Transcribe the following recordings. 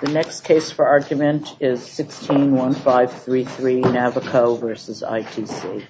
The next case for argument is 161533 Navico v. ITC.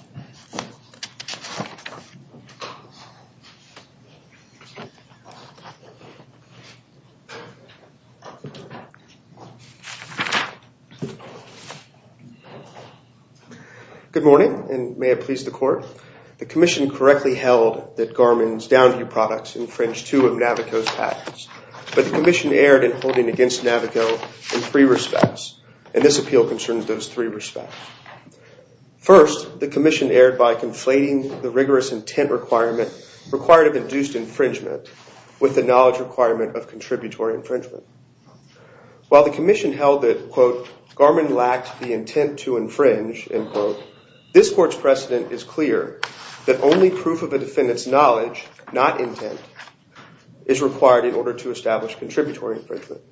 This is a case for argument 161533 Navico v. ITC. This is a case for argument 161533 Navico v. ITC. This is a case for argument 161533 Navico v. ITC. This is a case for argument 161533 Navico v. ITC. Okay, we settled. Mr. Stevens, whenever you're ready. Good morning, and may it please the court. First, the commission erred by conflating the rigorous intent requirement required of induced infringement with the knowledge requirement of contributory infringement. While the commission held that, quote, Garmin lacked the intent to infringe, end quote, this court's precedent is clear. That only proof of a defendant's knowledge, not intent, is required in order to establish contributory infringement.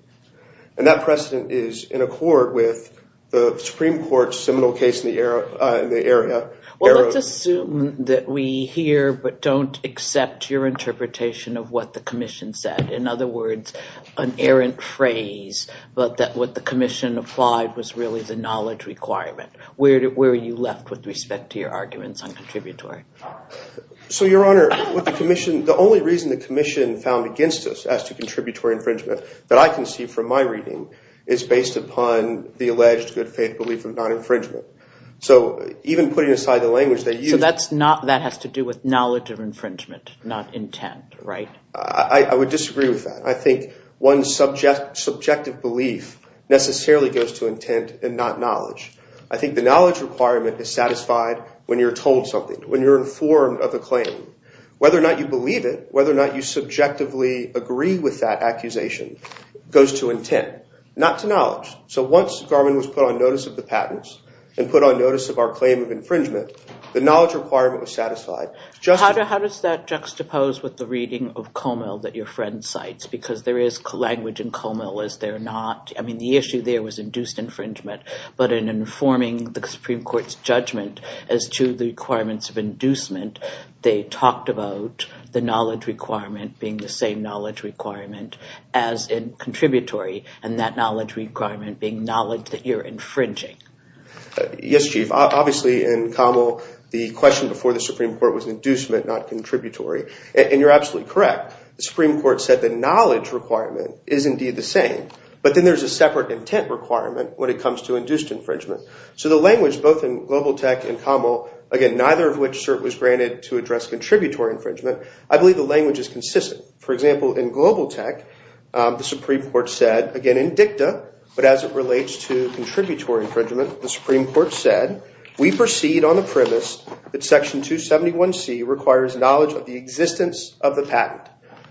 And that precedent is in accord with the Supreme Court's seminal case in the area. Well, let's assume that we hear but don't accept your interpretation of what the commission said. In other words, an errant phrase, but that what the commission applied was really the knowledge requirement. Where are you left with respect to your arguments on contributory? So, Your Honor, with the commission, the only reason the commission found against us as to contributory infringement that I can see from my reading is based upon the alleged good faith belief of non-infringement. So even putting aside the language they use. So that has to do with knowledge of infringement, not intent, right? I would disagree with that. I think one subjective belief necessarily goes to intent and not knowledge. I think the knowledge requirement is satisfied when you're told something, when you're informed of a claim. Whether or not you believe it, whether or not you subjectively agree with that accusation goes to intent, not to knowledge. So once Garmin was put on notice of the patents and put on notice of our claim of infringement, the knowledge requirement was satisfied. How does that juxtapose with the reading of Comel that your friend cites? Because there is language in Comel as they're not. I mean, the issue there was induced infringement. But in informing the Supreme Court's judgment as to the requirements of inducement, they talked about the knowledge requirement being the same knowledge requirement as in contributory. And that knowledge requirement being knowledge that you're infringing. Yes, Chief. Obviously, in Comel, the question before the Supreme Court was inducement, not contributory. And you're absolutely correct. The Supreme Court said the knowledge requirement is indeed the same. But then there's a separate intent requirement when it comes to induced infringement. So the language, both in Global Tech and Comel, again, neither of which was granted to address contributory infringement, I believe the language is consistent. For example, in Global Tech, the Supreme Court said, again, in dicta, but as it relates to contributory infringement, the Supreme Court said, we proceed on the premise that Section 271C requires knowledge of the existence of the patent.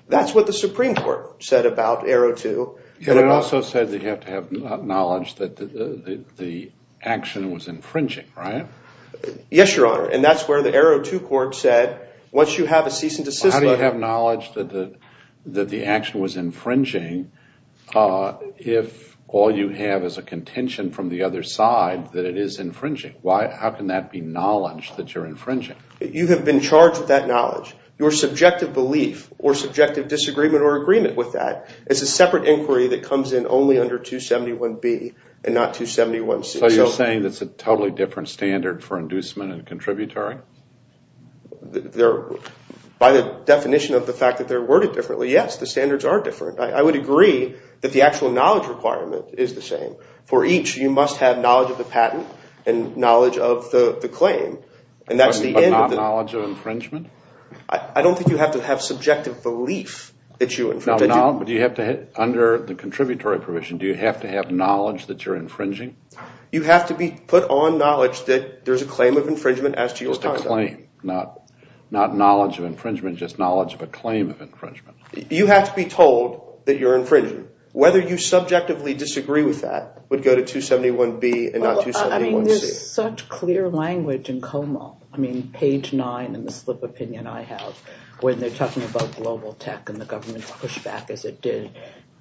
That's what the Supreme Court said about Arrow 2. It also said that you have to have knowledge that the action was infringing, right? Yes, Your Honor. And that's where the Arrow 2 court said, once you have a cease and desist letter. You have to have knowledge that the action was infringing if all you have is a contention from the other side that it is infringing. How can that be knowledge that you're infringing? You have been charged with that knowledge. Your subjective belief or subjective disagreement or agreement with that is a separate inquiry that comes in only under 271B and not 271C. So you're saying that's a totally different standard for inducement and contributory? By the definition of the fact that they're worded differently, yes, the standards are different. I would agree that the actual knowledge requirement is the same. For each, you must have knowledge of the patent and knowledge of the claim. But not knowledge of infringement? I don't think you have to have subjective belief that you infringed. Under the contributory provision, do you have to have knowledge that you're infringing? You have to be put on knowledge that there's a claim of infringement as to your conduct. Just a claim, not knowledge of infringement, just knowledge of a claim of infringement. You have to be told that you're infringing. Whether you subjectively disagree with that would go to 271B and not 271C. Well, I mean, there's such clear language in Como. I mean, page 9 in the slip opinion I have when they're talking about global tech and the government's pushback as it did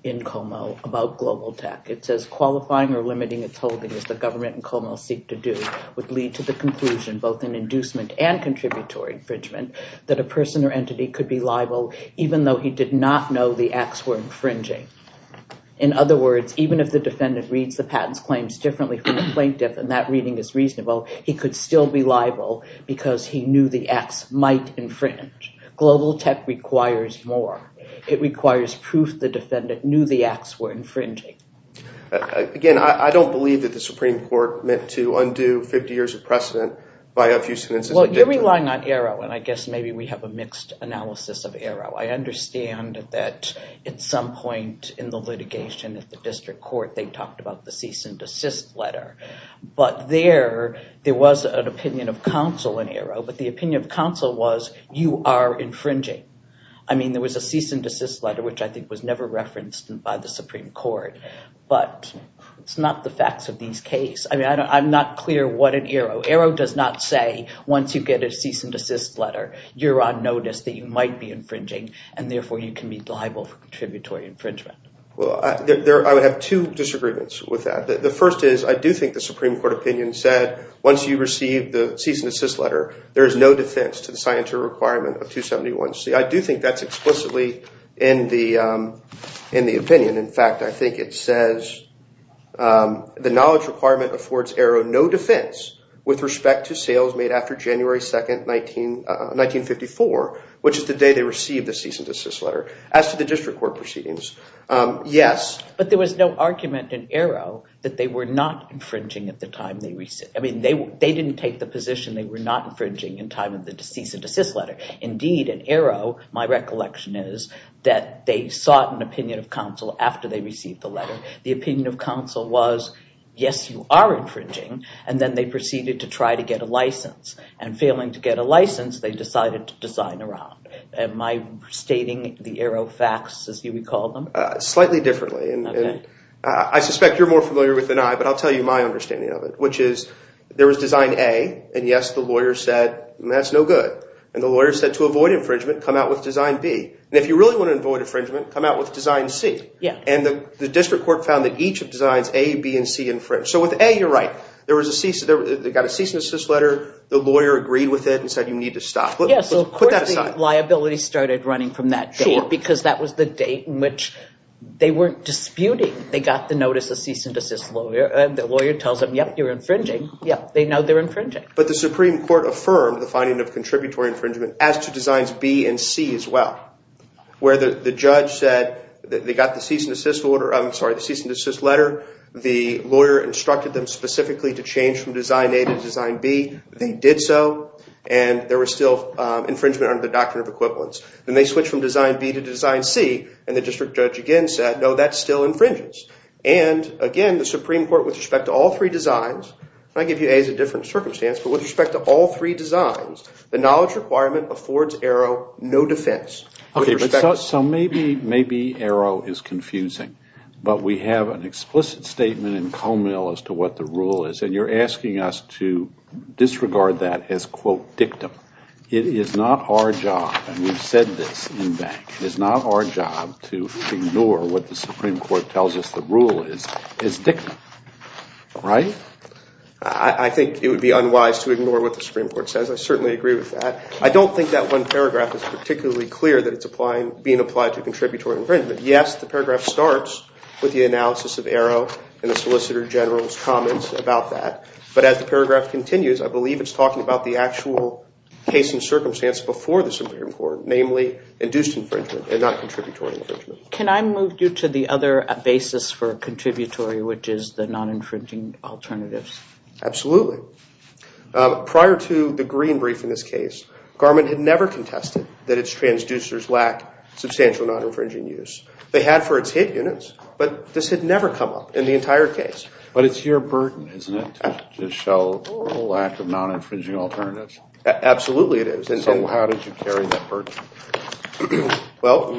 in Como about global tech. It says qualifying or limiting its holding, as the government in Como seek to do, would lead to the conclusion, both in inducement and contributory infringement, that a person or entity could be liable even though he did not know the acts were infringing. In other words, even if the defendant reads the patent's claims differently from the plaintiff and that reading is reasonable, he could still be liable because he knew the acts might infringe. Global tech requires more. It requires proof the defendant knew the acts were infringing. Again, I don't believe that the Supreme Court meant to undo 50 years of precedent by a few sentences. Well, you're relying on ARO, and I guess maybe we have a mixed analysis of ARO. I understand that at some point in the litigation at the district court they talked about the cease and desist letter. But there, there was an opinion of counsel in ARO, but the opinion of counsel was you are infringing. I mean, there was a cease and desist letter, which I think was never referenced by the Supreme Court. But it's not the facts of these case. I mean, I'm not clear what in ARO. ARO does not say once you get a cease and desist letter, you're on notice that you might be infringing, and therefore you can be liable for contributory infringement. Well, I would have two disagreements with that. The first is I do think the Supreme Court opinion said once you receive the cease and desist letter, there is no defense to the scienter requirement of 271C. I do think that's explicitly in the opinion. In fact, I think it says the knowledge requirement affords ARO no defense with respect to sales made after January 2, 1954, which is the day they received the cease and desist letter. As to the district court proceedings, yes. But there was no argument in ARO that they were not infringing at the time they received. I mean, they didn't take the position they were not infringing in time of the cease and desist letter. Indeed, in ARO, my recollection is that they sought an opinion of counsel after they received the letter. The opinion of counsel was, yes, you are infringing, and then they proceeded to try to get a license. And failing to get a license, they decided to design a round. Am I stating the ARO facts as you would call them? Slightly differently, and I suspect you're more familiar with than I, but I'll tell you my understanding of it, which is there was design A, and yes, the lawyer said, that's no good. And the lawyer said, to avoid infringement, come out with design B. And if you really want to avoid infringement, come out with design C. And the district court found that each of designs A, B, and C infringed. So with A, you're right. They got a cease and desist letter. The lawyer agreed with it and said, you need to stop. Yeah, so of course the liability started running from that date because that was the date in which they weren't disputing. They got the notice of cease and desist lawyer, and the lawyer tells them, yep, you're infringing. Yep, they know they're infringing. But the Supreme Court affirmed the finding of contributory infringement as to designs B and C as well, where the judge said that they got the cease and desist letter. The lawyer instructed them specifically to change from design A to design B. They did so, and there was still infringement under the doctrine of equivalence. Then they switched from design B to design C, and the district judge again said, no, that still infringes. And, again, the Supreme Court, with respect to all three designs, and I give you A as a different circumstance, but with respect to all three designs, the knowledge requirement affords Arrow no defense. Okay, so maybe Arrow is confusing, but we have an explicit statement in Comell as to what the rule is, and you're asking us to disregard that as, quote, dictum. It is not our job, and we've said this in back, it is not our job to ignore what the Supreme Court tells us the rule is as dictum, right? I think it would be unwise to ignore what the Supreme Court says. I certainly agree with that. I don't think that one paragraph is particularly clear that it's being applied to contributory infringement. Yes, the paragraph starts with the analysis of Arrow and the Solicitor General's comments about that. But as the paragraph continues, I believe it's talking about the actual case and circumstance before the Supreme Court, namely induced infringement and not contributory infringement. Can I move you to the other basis for contributory, which is the non-infringing alternatives? Absolutely. Prior to the Green brief in this case, Garment had never contested that its transducers lack substantial non-infringing use. They had for its hit units, but this had never come up in the entire case. But it's your burden, isn't it, to show a lack of non-infringing alternatives? Absolutely it is. So how did you carry that burden? Well,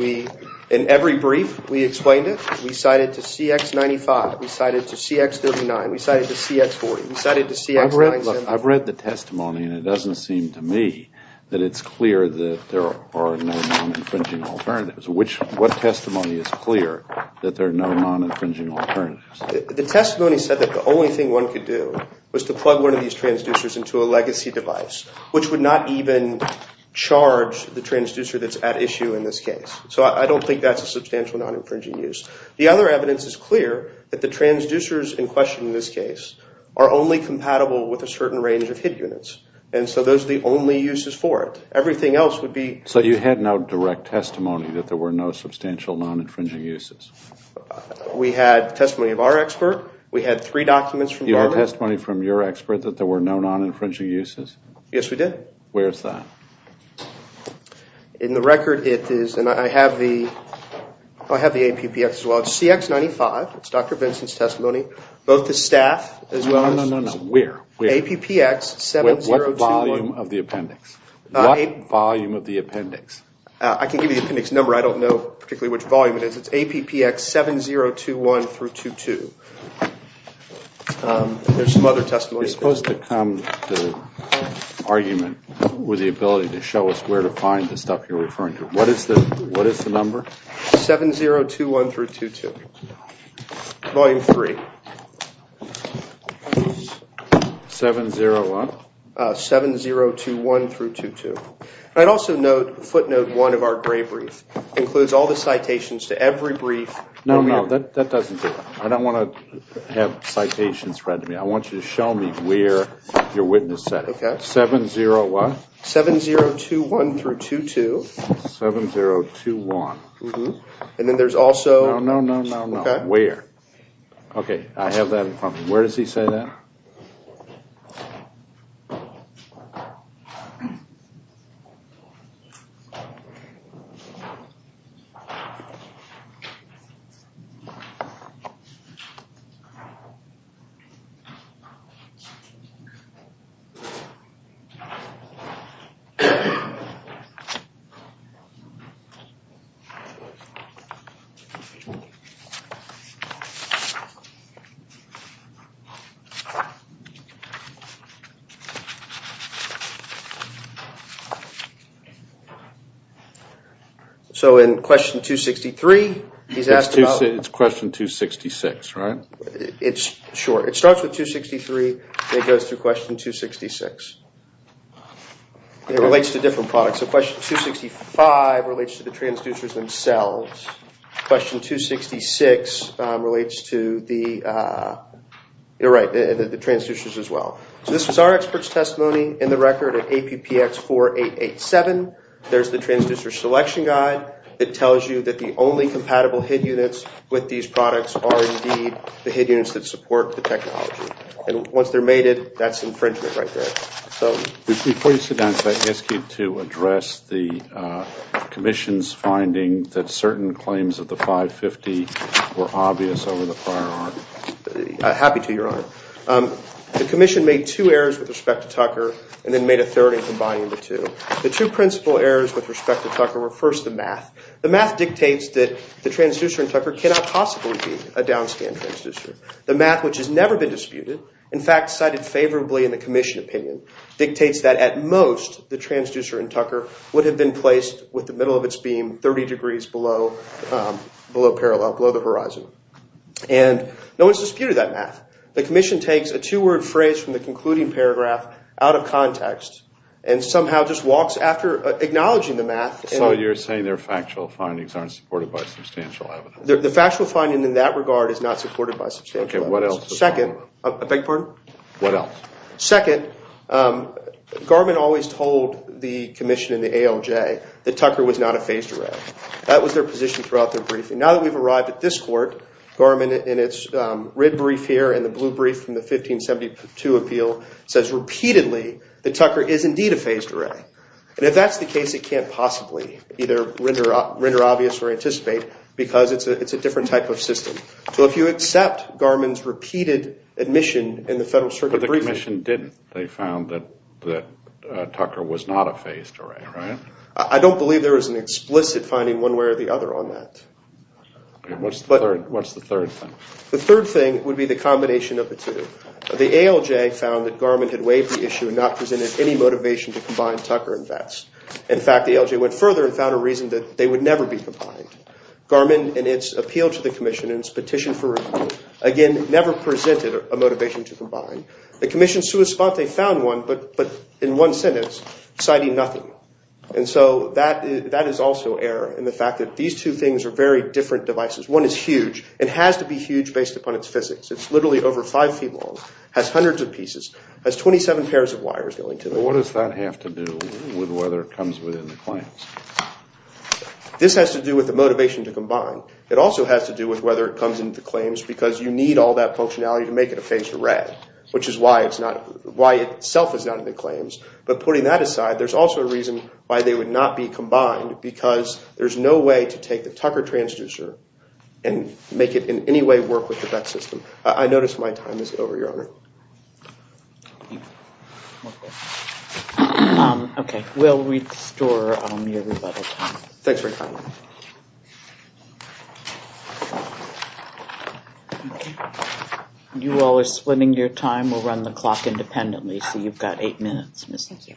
in every brief we explained it. We cited to CX-95. We cited to CX-39. We cited to CX-40. We cited to CX-97. I've read the testimony, and it doesn't seem to me that it's clear that there are no non-infringing alternatives. What testimony is clear that there are no non-infringing alternatives? The testimony said that the only thing one could do was to plug one of these transducers into a legacy device, which would not even charge the transducer that's at issue in this case. So I don't think that's a substantial non-infringing use. The other evidence is clear that the transducers in question in this case are only compatible with a certain range of hit units. And so those are the only uses for it. Everything else would be— So you had no direct testimony that there were no substantial non-infringing uses? We had testimony of our expert. We had three documents from Garment. You had testimony from your expert that there were no non-infringing uses? Yes, we did. Where is that? In the record, it is—and I have the—I have the APPX as well. It's CX-95. It's Dr. Benson's testimony. Both the staff as well as— No, no, no, no. Where? APPX 7021. What volume of the appendix? What volume of the appendix? I can give you the appendix number. I don't know particularly which volume it is. It's APPX 7021-22. There's some other testimony. You're supposed to come to the argument with the ability to show us where to find the stuff you're referring to. What is the number? 7021-22. Volume 3. 70 what? 7021-22. I'd also note footnote 1 of our gray brief includes all the citations to every brief. No, no. That doesn't do it. I don't want to have citations read to me. I want you to show me where your witness said it. Okay. 70 what? 7021-22. 7021. Mm-hmm. And then there's also— No, no, no, no, no. Where? Okay. I have that in front of me. Where does he say that? Okay. So in question 263, he's asked about— It's question 266, right? Sure. It starts with 263 and it goes through question 266. It relates to different products. So question 265 relates to the transducers themselves. Question 266 relates to the—you're right, the transducers as well. So this was our expert's testimony in the record at APPX-4887. There's the transducer selection guide. It tells you that the only compatible HID units with these products are indeed the HID units that support the technology. And once they're mated, that's infringement right there. Before you sit down, can I ask you to address the commission's finding that certain claims of the 550 were obvious over the prior argument? Happy to, Your Honor. The commission made two errors with respect to Tucker and then made a third in combining the two. The two principal errors with respect to Tucker were, first, the math. The math dictates that the transducer in Tucker cannot possibly be a downscan transducer. The math, which has never been disputed, in fact, cited favorably in the commission opinion, dictates that at most the transducer in Tucker would have been placed with the middle of its beam 30 degrees below parallel, below the horizon. And no one's disputed that math. The commission takes a two-word phrase from the concluding paragraph out of context and somehow just walks after acknowledging the math. So you're saying their factual findings aren't supported by substantial evidence. The factual finding in that regard is not supported by substantial evidence. Okay, what else? Second, I beg your pardon? What else? Second, Garman always told the commission in the ALJ that Tucker was not a phased array. That was their position throughout their briefing. Now that we've arrived at this court, Garman in its red brief here and the blue brief from the 1572 appeal says repeatedly that Tucker is indeed a phased array. And if that's the case, it can't possibly either render obvious or anticipate because it's a different type of system. So if you accept Garman's repeated admission in the Federal Circuit briefing. But the commission didn't. They found that Tucker was not a phased array, right? I don't believe there was an explicit finding one way or the other on that. What's the third thing? The third thing would be the combination of the two. The ALJ found that Garman had waived the issue and not presented any motivation to combine Tucker and Vetz. In fact, the ALJ went further and found a reason that they would never be combined. Garman in its appeal to the commission and its petition for review, again, never presented a motivation to combine. The commission sua sponte found one, but in one sentence, citing nothing. And so that is also error in the fact that these two things are very different devices. One is huge. It has to be huge based upon its physics. It's literally over five feet long, has hundreds of pieces, has 27 pairs of wires going to it. What does that have to do with whether it comes within the claims? This has to do with the motivation to combine. It also has to do with whether it comes into claims because you need all that functionality to make it a phased array, which is why itself it's not in the claims. But putting that aside, there's also a reason why they would not be combined because there's no way to take the Tucker transducer and make it in any way work with the Vetz system. I notice my time is over, Your Honor. Okay. We'll restore everybody's time. Thanks very much. You all are splitting your time. We'll run the clock independently, so you've got eight minutes. Thank you.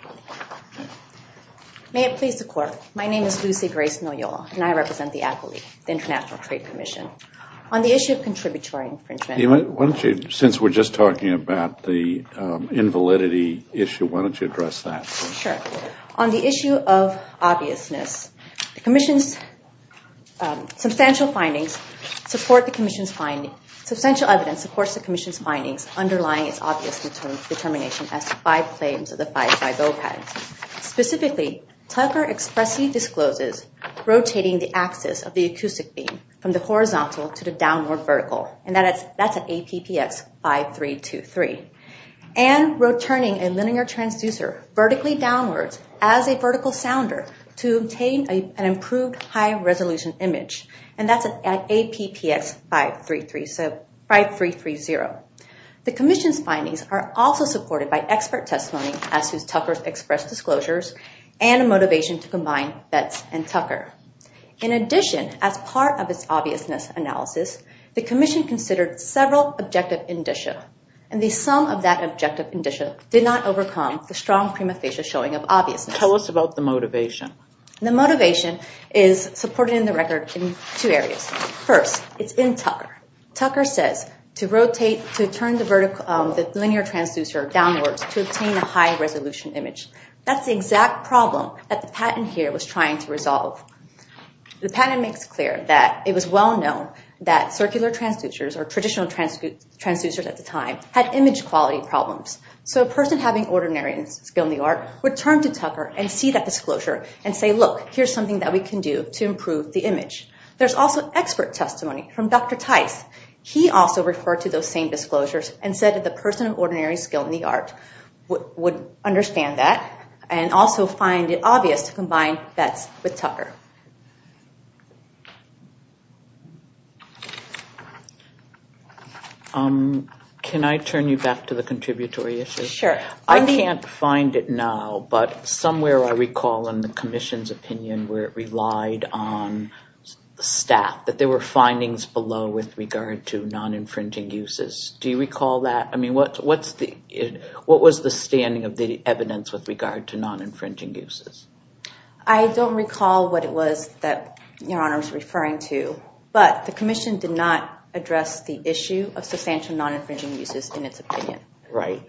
May it please the Court. My name is Lucy Grace Noyola, and I represent the Accolyte, the International Trade Commission. On the issue of contributory infringement… Why don't you, since we're just talking about the invalidity issue, why don't you address that? Sure. On the issue of obviousness, the Commission's substantial evidence supports the Commission's findings underlying its obvious determination as to five claims of the 5-5 OPEC. Specifically, Tucker expressly discloses rotating the axis of the acoustic beam from the horizontal to the downward vertical, and that's at APPX 5323, and returning a linear transducer vertically downwards as a vertical sounder to obtain an improved high-resolution image, and that's at APPX 5330. The Commission's findings are also supported by expert testimony as to Tucker's expressed disclosures and a motivation to combine Betz and Tucker. In addition, as part of its obviousness analysis, the Commission considered several objective indicia, and the sum of that objective indicia did not overcome the strong prima facie showing of obviousness. Tell us about the motivation. The motivation is supported in the record in two areas. First, it's in Tucker. Tucker says to rotate, to turn the linear transducer downwards to obtain a high-resolution image. That's the exact problem that the patent here was trying to resolve. The patent makes clear that it was well known that circular transducers, or traditional transducers at the time, had image quality problems. So a person having ordinary skill in the art would turn to Tucker and see that disclosure and say, look, here's something that we can do to improve the image. There's also expert testimony from Dr. Tice. He also referred to those same disclosures and said that the person of ordinary skill in the art would understand that and also find it obvious to combine Betz with Tucker. Can I turn you back to the contributory issue? Sure. I can't find it now, but somewhere I recall in the commission's opinion where it relied on staff, that there were findings below with regard to non-infringing uses. Do you recall that? I mean, what was the standing of the evidence with regard to non-infringing uses? I don't recall what it was. Your Honor was referring to, but the commission did not address the issue of substantial non-infringing uses in its opinion. Right.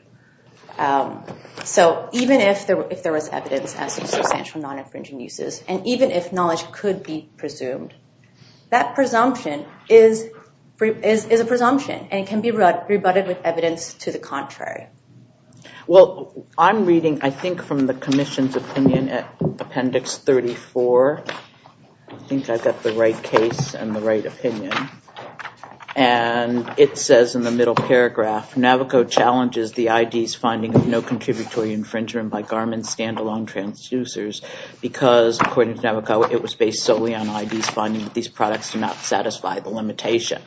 So even if there was evidence as to substantial non-infringing uses and even if knowledge could be presumed, that presumption is a presumption and can be rebutted with evidence to the contrary. Well, I'm reading, I think, from the commission's opinion at Appendix 34. I think I've got the right case and the right opinion. And it says in the middle paragraph, Navico challenges the ID's finding of no contributory infringement by Garmin stand-alone transducers because, according to Navico, it was based solely on ID's finding that these products do not satisfy the limitation.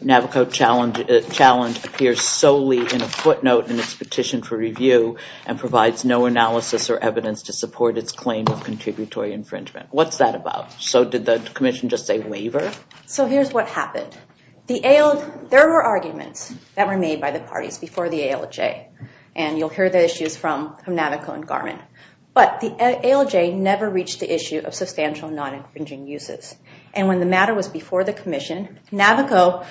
Navico challenge appears solely in a footnote in its petition for review and provides no analysis or evidence to support its claim of contributory infringement. What's that about? So did the commission just say waiver? So here's what happened. There were arguments that were made by the parties before the ALJ. And you'll hear the issues from Navico and Garmin. But the ALJ never reached the issue of substantial non-infringing uses. And when the matter was before the commission, Navico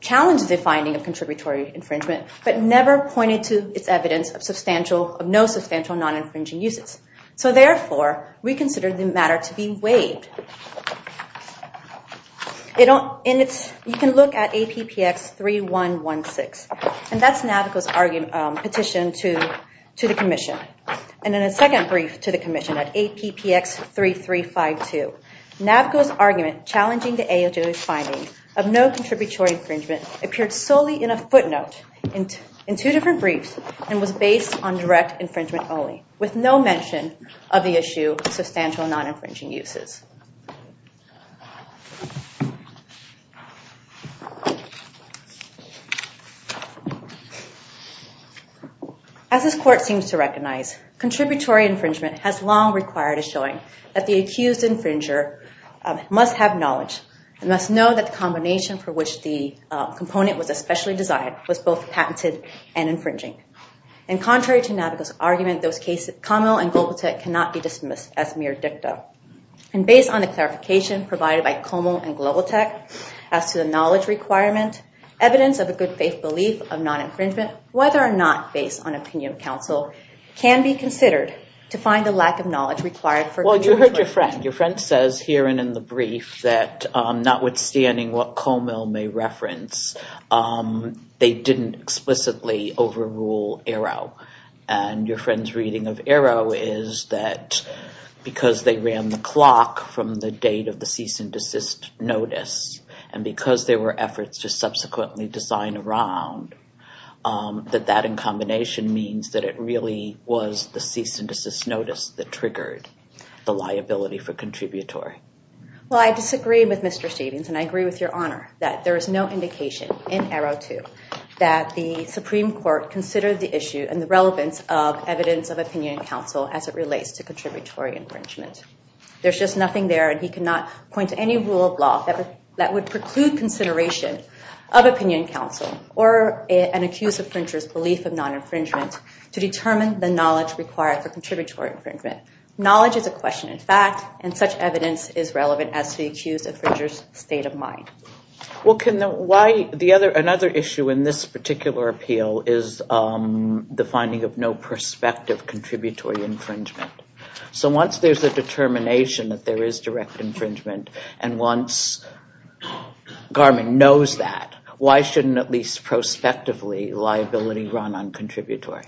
challenged the finding of contributory infringement but never pointed to its evidence of no substantial non-infringing uses. So therefore, we consider the matter to be waived. You can look at APPX 3116. And that's Navico's petition to the commission. And then a second brief to the commission at APPX 3352. Navico's argument challenging the ALJ's finding of no contributory infringement appeared solely in a footnote in two different briefs and was based on direct infringement only with no mention of the issue of substantial non-infringing uses. As this court seems to recognize, contributory infringement has long required a showing that the accused infringer must have knowledge and must know that the combination for which the component was especially designed was both patented and infringing. And contrary to Navico's argument, those cases, Comel and Globotech, cannot be dismissed as mere dicta. And based on the clarification provided by Comel and Globotech as to the knowledge requirement, evidence of a good faith belief of non-infringement, whether or not based on opinion of counsel, can be considered to find a lack of knowledge required for... Well, you heard your friend. Your friend says here and in the brief that notwithstanding what Comel may reference, they didn't explicitly overrule Arrow. And your friend's reading of Arrow is that because they ran the clock from the date of the cease and desist notice and because there were efforts to subsequently design around, that that in combination means that it really was the cease and desist notice that triggered the liability for contributory. Well, I disagree with Mr. Stevens, and I agree with Your Honor, that there is no indication in Arrow 2 that the Supreme Court considered the issue and the relevance of evidence of opinion of counsel as it relates to contributory infringement. There's just nothing there, and he cannot point to any rule of law that would preclude consideration of opinion of counsel or an accused infringer's belief of non-infringement to determine the knowledge required for contributory infringement. Knowledge is a question in fact, and such evidence is relevant as to the accused infringer's state of mind. Well, another issue in this particular appeal is the finding of no prospective contributory infringement. So once there's a determination that there is direct infringement and once Garmin knows that, why shouldn't at least prospectively liability run on contributory?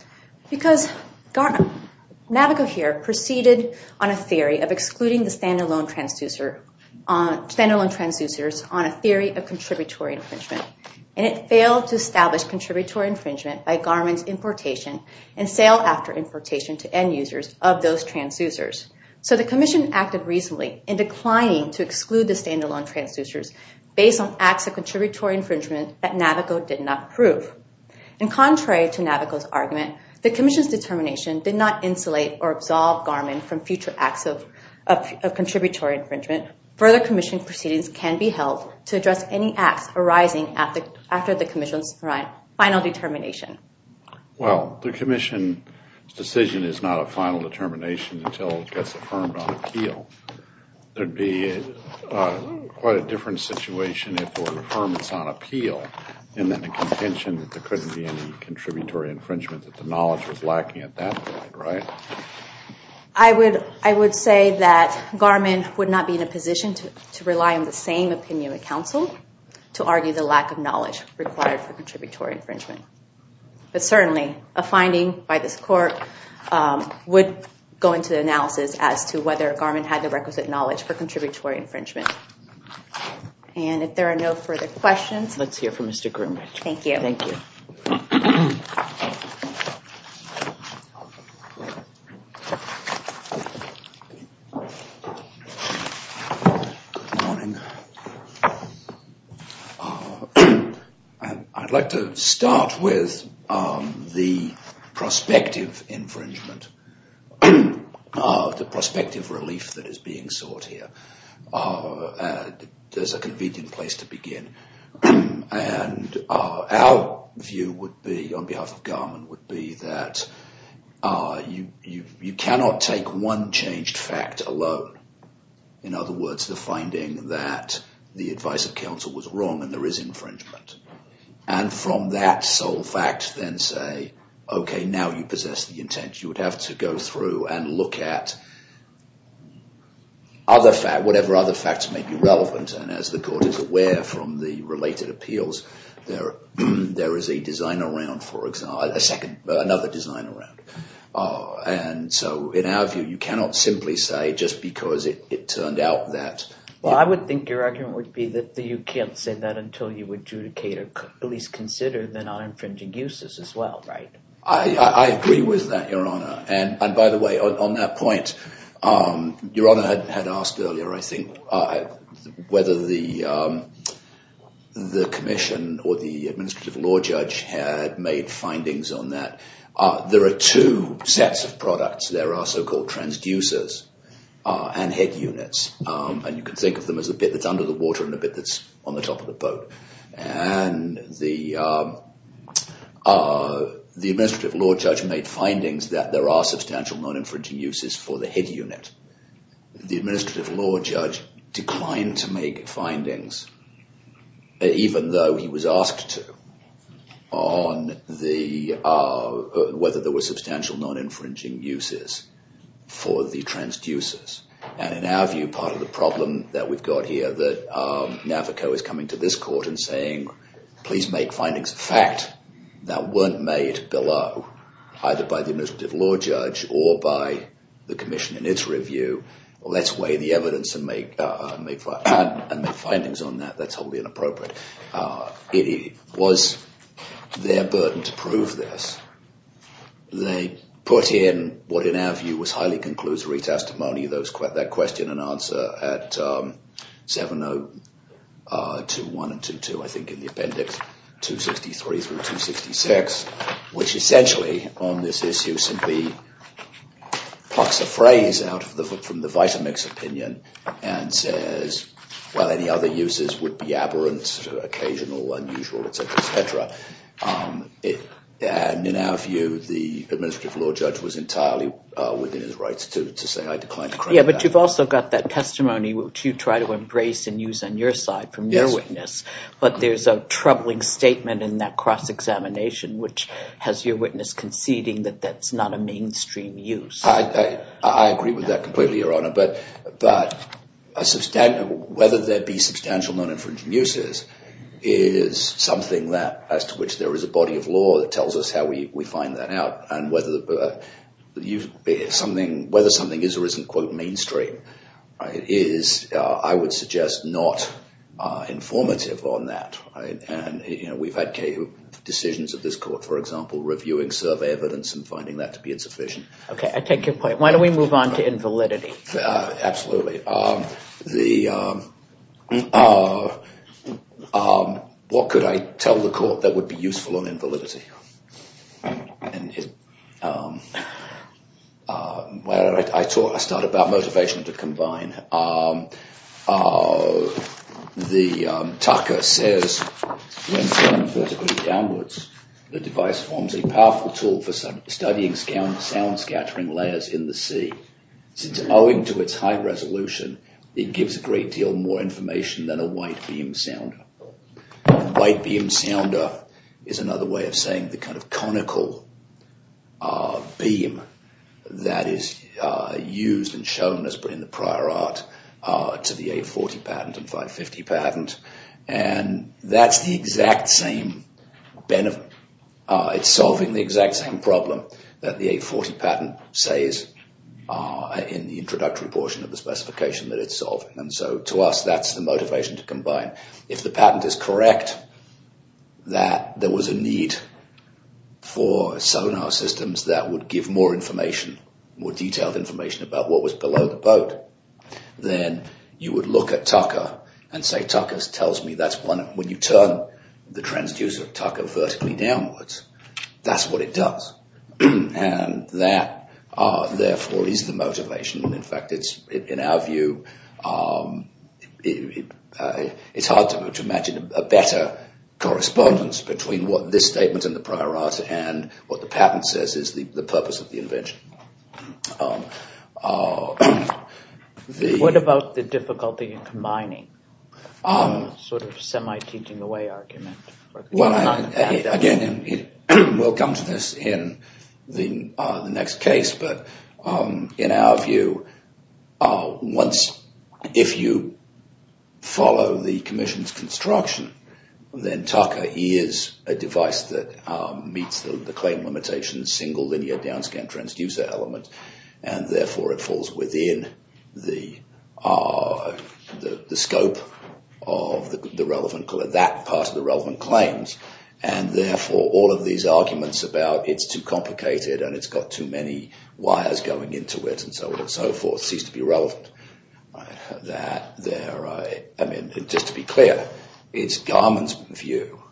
Because Navico here proceeded on a theory of excluding the standalone transducers on a theory of contributory infringement, and it failed to establish contributory infringement by Garmin's importation and sale after importation to end users of those transducers. So the commission acted reasonably in declining to exclude the standalone transducers based on acts of contributory infringement that Navico did not prove. And contrary to Navico's argument, the commission's determination did not insulate or absolve Garmin from future acts of contributory infringement. Further commission proceedings can be held to address any acts arising after the commission's final determination. Well, the commission's decision is not a final determination until it gets affirmed on appeal. There'd be quite a different situation if it were affirmed on appeal and then the contention that there couldn't be any contributory infringement, that the knowledge was lacking at that point, right? I would say that Garmin would not be in a position to rely on the same opinion of counsel to argue the lack of knowledge required for contributory infringement. But certainly, a finding by this court would go into the analysis as to whether Garmin had the requisite knowledge for contributory infringement. And if there are no further questions... Let's hear from Mr. Groom. Thank you. Thank you. Good morning. I'd like to start with the prospective infringement, the prospective relief that is being sought here. There's a convenient place to begin. And our view would be, on behalf of Garmin, would be that you cannot take one changed fact alone. In other words, the finding that the advice of counsel was wrong and there is infringement. And from that sole fact, then say, okay, now you possess the intent. You would have to go through and look at other facts, whatever other facts may be relevant. And as the court is aware from the related appeals, there is a design around, for example, another design around. And so in our view, you cannot simply say just because it turned out that... Well, I would think your argument would be that you can't say that until you adjudicate or at least consider the non-infringing uses as well, right? I agree with that, Your Honor. And by the way, on that point, Your Honor had asked earlier, I think, whether the commission or the administrative law judge had made findings on that. There are two sets of products. There are so-called transducers and head units. And you can think of them as a bit that's under the water and a bit that's on the top of the boat. And the administrative law judge made findings that there are substantial non-infringing uses for the head unit. The administrative law judge declined to make findings, even though he was asked to, on whether there were substantial non-infringing uses for the transducers. And in our view, part of the problem that we've got here that Navico is coming to this court and saying, please make findings of fact that weren't made below, either by the administrative law judge or by the commission in its review. Let's weigh the evidence and make findings on that. That's wholly inappropriate. It was their burden to prove this. They put in what, in our view, was highly conclusory testimony, that question and answer at 7.021 and 2.2, I think, in the appendix 263 through 266, which essentially on this issue simply plucks a phrase out from the Vitamix opinion and says, well, any other uses would be aberrant, occasional, unusual, et cetera, et cetera. And in our view, the administrative law judge was entirely within his rights to say I declined to credit that. Yeah, but you've also got that testimony, which you try to embrace and use on your side from your witness. But there's a troubling statement in that cross-examination, which has your witness conceding that that's not a mainstream use. I agree with that completely, Your Honor. But whether there be substantial non-infringing uses is something that, as to which there is a body of law that tells us how we find that out. And whether something is or isn't, quote, mainstream, is, I would suggest, not informative on that. And we've had decisions of this court, for example, reviewing survey evidence and finding that to be insufficient. Okay, I take your point. Why don't we move on to invalidity? Absolutely. What could I tell the court that would be useful on invalidity? Well, I start about motivation to combine. The Tucker says, When turned vertically downwards, the device forms a powerful tool for studying sound scattering layers in the sea. Since owing to its high resolution, it gives a great deal more information than a white beam sounder. A white beam sounder is another way of saying the kind of conical beam that is used and shown in the prior art to the A40 patent and 550 patent. And that's the exact same benefit. It's solving the exact same problem that the A40 patent says in the introductory portion of the specification that it's solving. And so, to us, that's the motivation to combine. If the patent is correct that there was a need for sonar systems that would give more information, more detailed information about what was below the boat, then you would look at Tucker and say, Tucker tells me that's one. When you turn the transducer, Tucker, vertically downwards, that's what it does. And that, therefore, is the motivation. In fact, in our view, it's hard to imagine a better correspondence between what this statement in the prior art and what the patent says is the purpose of the invention. What about the difficulty in combining? Sort of semi-teaching-away argument. Well, again, we'll come to this in the next case. In our view, if you follow the commission's construction, then Tucker is a device that meets the claim limitations, single linear downscan transducer element, and, therefore, it falls within the scope of that part of the relevant claims. And, therefore, all of these arguments about it's too complicated and it's got too many wires going into it and so on and so forth cease to be relevant. Just to be clear, it's Garman's view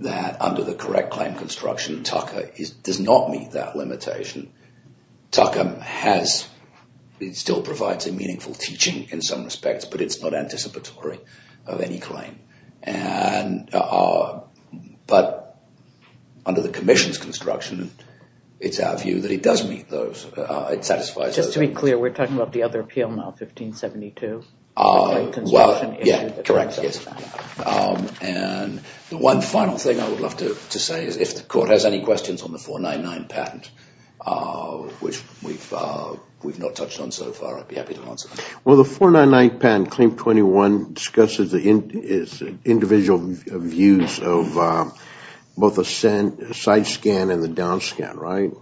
that under the correct claim construction, Tucker does not meet that limitation. Tucker still provides a meaningful teaching in some respects, but it's not anticipatory of any claim. But under the commission's construction, it's our view that it does meet those. It satisfies those. Just to be clear, we're talking about the other appeal now, 1572? Well, yeah, correct, yes. And the one final thing I would love to say is if the court has any questions on the 499 patent, which we've not touched on so far, I'd be happy to answer. Well, the 499 patent claim 21 discusses the individual views of both a side scan and the downscan, right?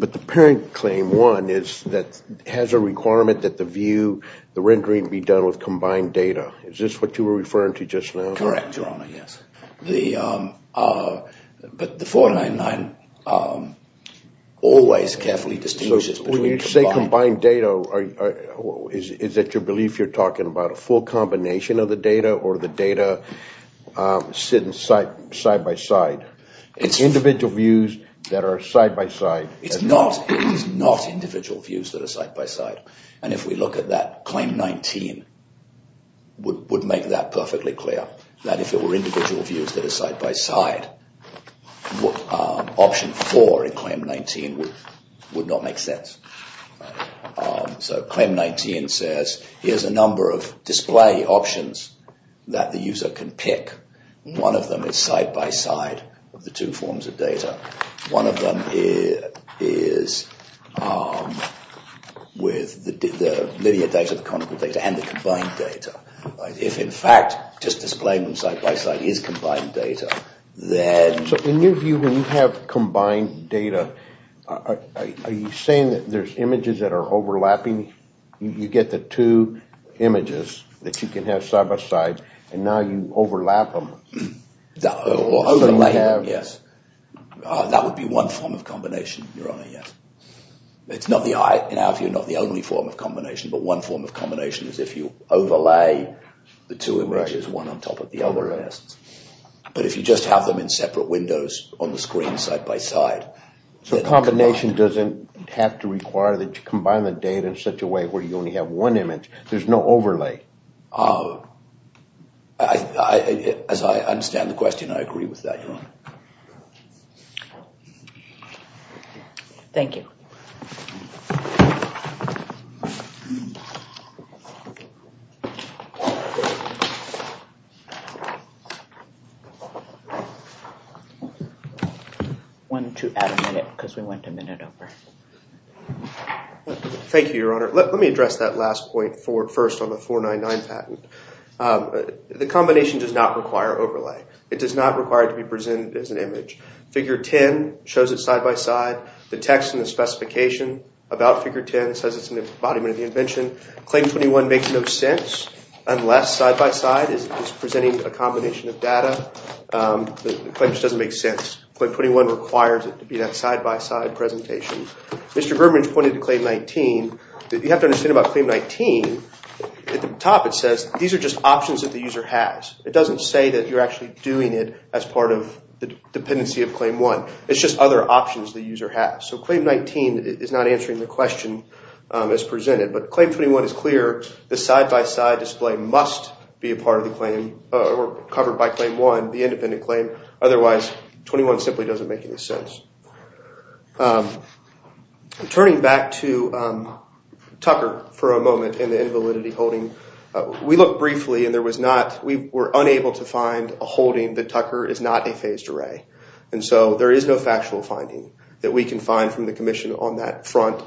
But the parent claim 1 has a requirement that the view, the rendering, be done with combined data. Is this what you were referring to just now? Correct, Your Honor, yes. But the 499 always carefully distinguishes between combined data or is it your belief you're talking about a full combination of the data or the data sitting side by side? It's individual views that are side by side. It's not individual views that are side by side. And if we look at that, Claim 19 would make that perfectly clear, that if it were individual views that are side by side, option 4 in Claim 19 would not make sense. So Claim 19 says here's a number of display options that the user can pick. One of them is side by side of the two forms of data. One of them is with the linear data, the conical data, and the combined data. If, in fact, just displaying them side by side is combined data, then... So in your view, when you have combined data, are you saying that there's images that are overlapping? You get the two images that you can have side by side and now you overlap them? Overlaying them, yes. That would be one form of combination, Your Honor, yes. It's not the only form of combination, but one form of combination is if you overlay the two images, one on top of the other. But if you just have them in separate windows on the screen side by side... So combination doesn't have to require that you combine the data in such a way where you only have one image. There's no overlay. Thank you. Wanted to add a minute because we went a minute over. Thank you, Your Honor. Let me address that last point first on the 499 patent. The combination does not require overlay. It does not require it to be presented as an image. Figure 10 shows it side by side. The text in the specification about Figure 10 says it's an embodiment of the invention. Claim 21 makes no sense unless side by side is presenting a combination of data. The claim just doesn't make sense. Claim 21 requires it to be that side by side presentation. Mr. Bermidge pointed to Claim 19. You have to understand about Claim 19, at the top it says these are just options that the user has. It doesn't say that you're actually doing it as part of the dependency of Claim 1. It's just other options the user has. So Claim 19 is not answering the question as presented. But Claim 21 is clear. The side by side display must be a part of the claim or covered by Claim 1, the independent claim. Otherwise, 21 simply doesn't make any sense. Turning back to Tucker for a moment and the invalidity holding. We looked briefly and we were unable to find a holding that Tucker is not a phased array. And so there is no factual finding that we can find from the Commission on that front.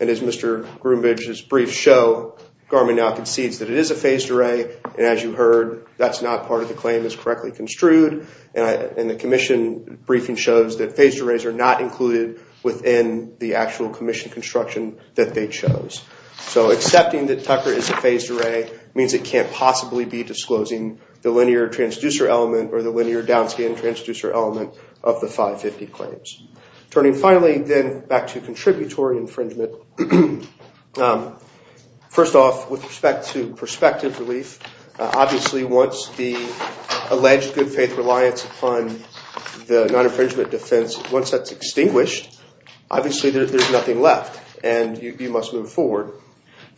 And as Mr. Groombridge's briefs show, Garmin now concedes that it is a phased array. And as you heard, that's not part of the claim as correctly construed. And the Commission briefing shows that phased arrays are not included within the actual Commission construction that they chose. So accepting that Tucker is a phased array means it can't possibly be disclosing the linear transducer element or the linear downscan transducer element of the 550 claims. Turning finally then back to contributory infringement. First off, with respect to prospective relief, obviously once the alleged good faith reliance upon the non-infringement defense, once that's extinguished, obviously there's nothing left. And you must move forward.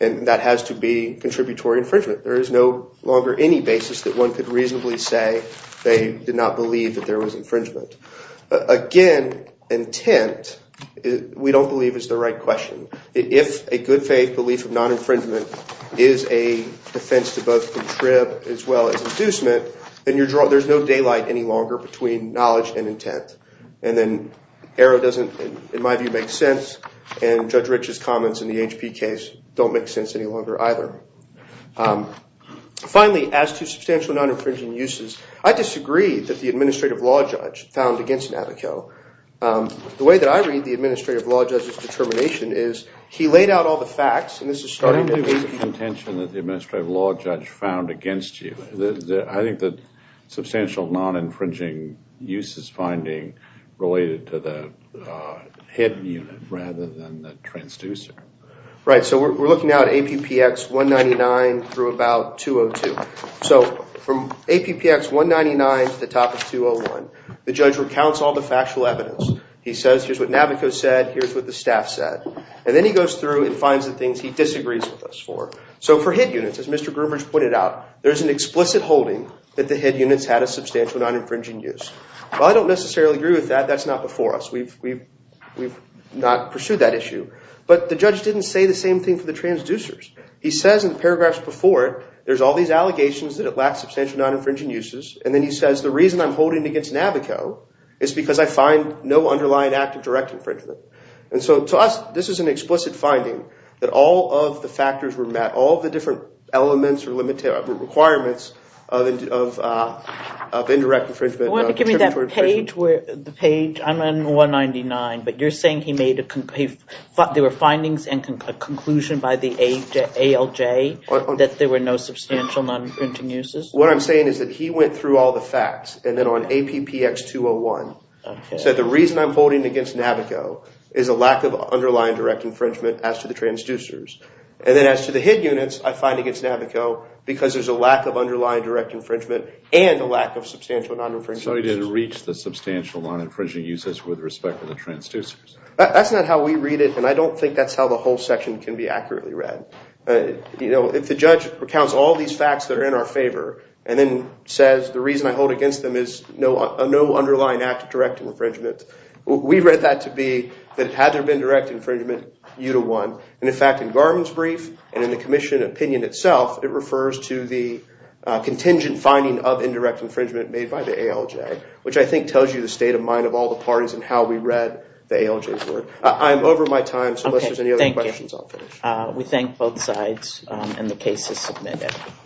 And that has to be contributory infringement. There is no longer any basis that one could reasonably say they did not believe that there was infringement. Again, intent, we don't believe, is the right question. If a good faith belief of non-infringement is a defense to both contrib as well as inducement, then there's no daylight any longer between knowledge and intent. And then Arrow doesn't, in my view, make sense. And Judge Rich's comments in the HP case don't make sense any longer either. Finally, as to substantial non-infringing uses, I disagree that the administrative law judge found against Navico. The way that I read the administrative law judge's determination is he laid out all the facts, and this is starting to be... I don't believe it's a contention that the administrative law judge found against you. I think that substantial non-infringing uses finding related to the hidden unit rather than the transducer. Right, so we're looking now at APPX 199 through about 202. So from APPX 199 to the top of 201, the judge recounts all the factual evidence. He says, here's what Navico said, here's what the staff said. And then he goes through and finds the things he disagrees with us for. So for hidden units, as Mr. Groombridge pointed out, there's an explicit holding that the hidden units had a substantial non-infringing use. While I don't necessarily agree with that, that's not before us. We've not pursued that issue. But the judge didn't say the same thing for the transducers. He says in the paragraphs before it, there's all these allegations that it lacks substantial non-infringing uses. And then he says, the reason I'm holding it against Navico is because I find no underlying act of direct infringement. And so to us, this is an explicit finding that all of the factors were met, all of the different elements or requirements of indirect infringement... You want to give me that page? I'm on 199, but you're saying there were findings and a conclusion by the ALJ that there were no substantial non-infringing uses? What I'm saying is that he went through all the facts and then on APPX 201 said, the reason I'm holding it against Navico is a lack of underlying direct infringement as to the transducers. And then as to the hidden units, I find against Navico because there's a lack of underlying direct infringement and a lack of substantial non-infringing uses. So he didn't reach the substantial non-infringing uses with respect to the transducers? That's not how we read it, and I don't think that's how the whole section can be accurately read. If the judge recounts all these facts that are in our favor and then says, the reason I hold it against them is no underlying act of direct infringement, we read that to be that had there been direct infringement, you'd have won. And in fact, in Garland's brief and in the commission opinion itself, it refers to the contingent finding of indirect infringement made by the ALJ, which I think tells you the state of mind of all the parties and how we read the ALJ's word. I'm over my time, so unless there's any other questions, I'll finish. We thank both sides, and the case is submitted.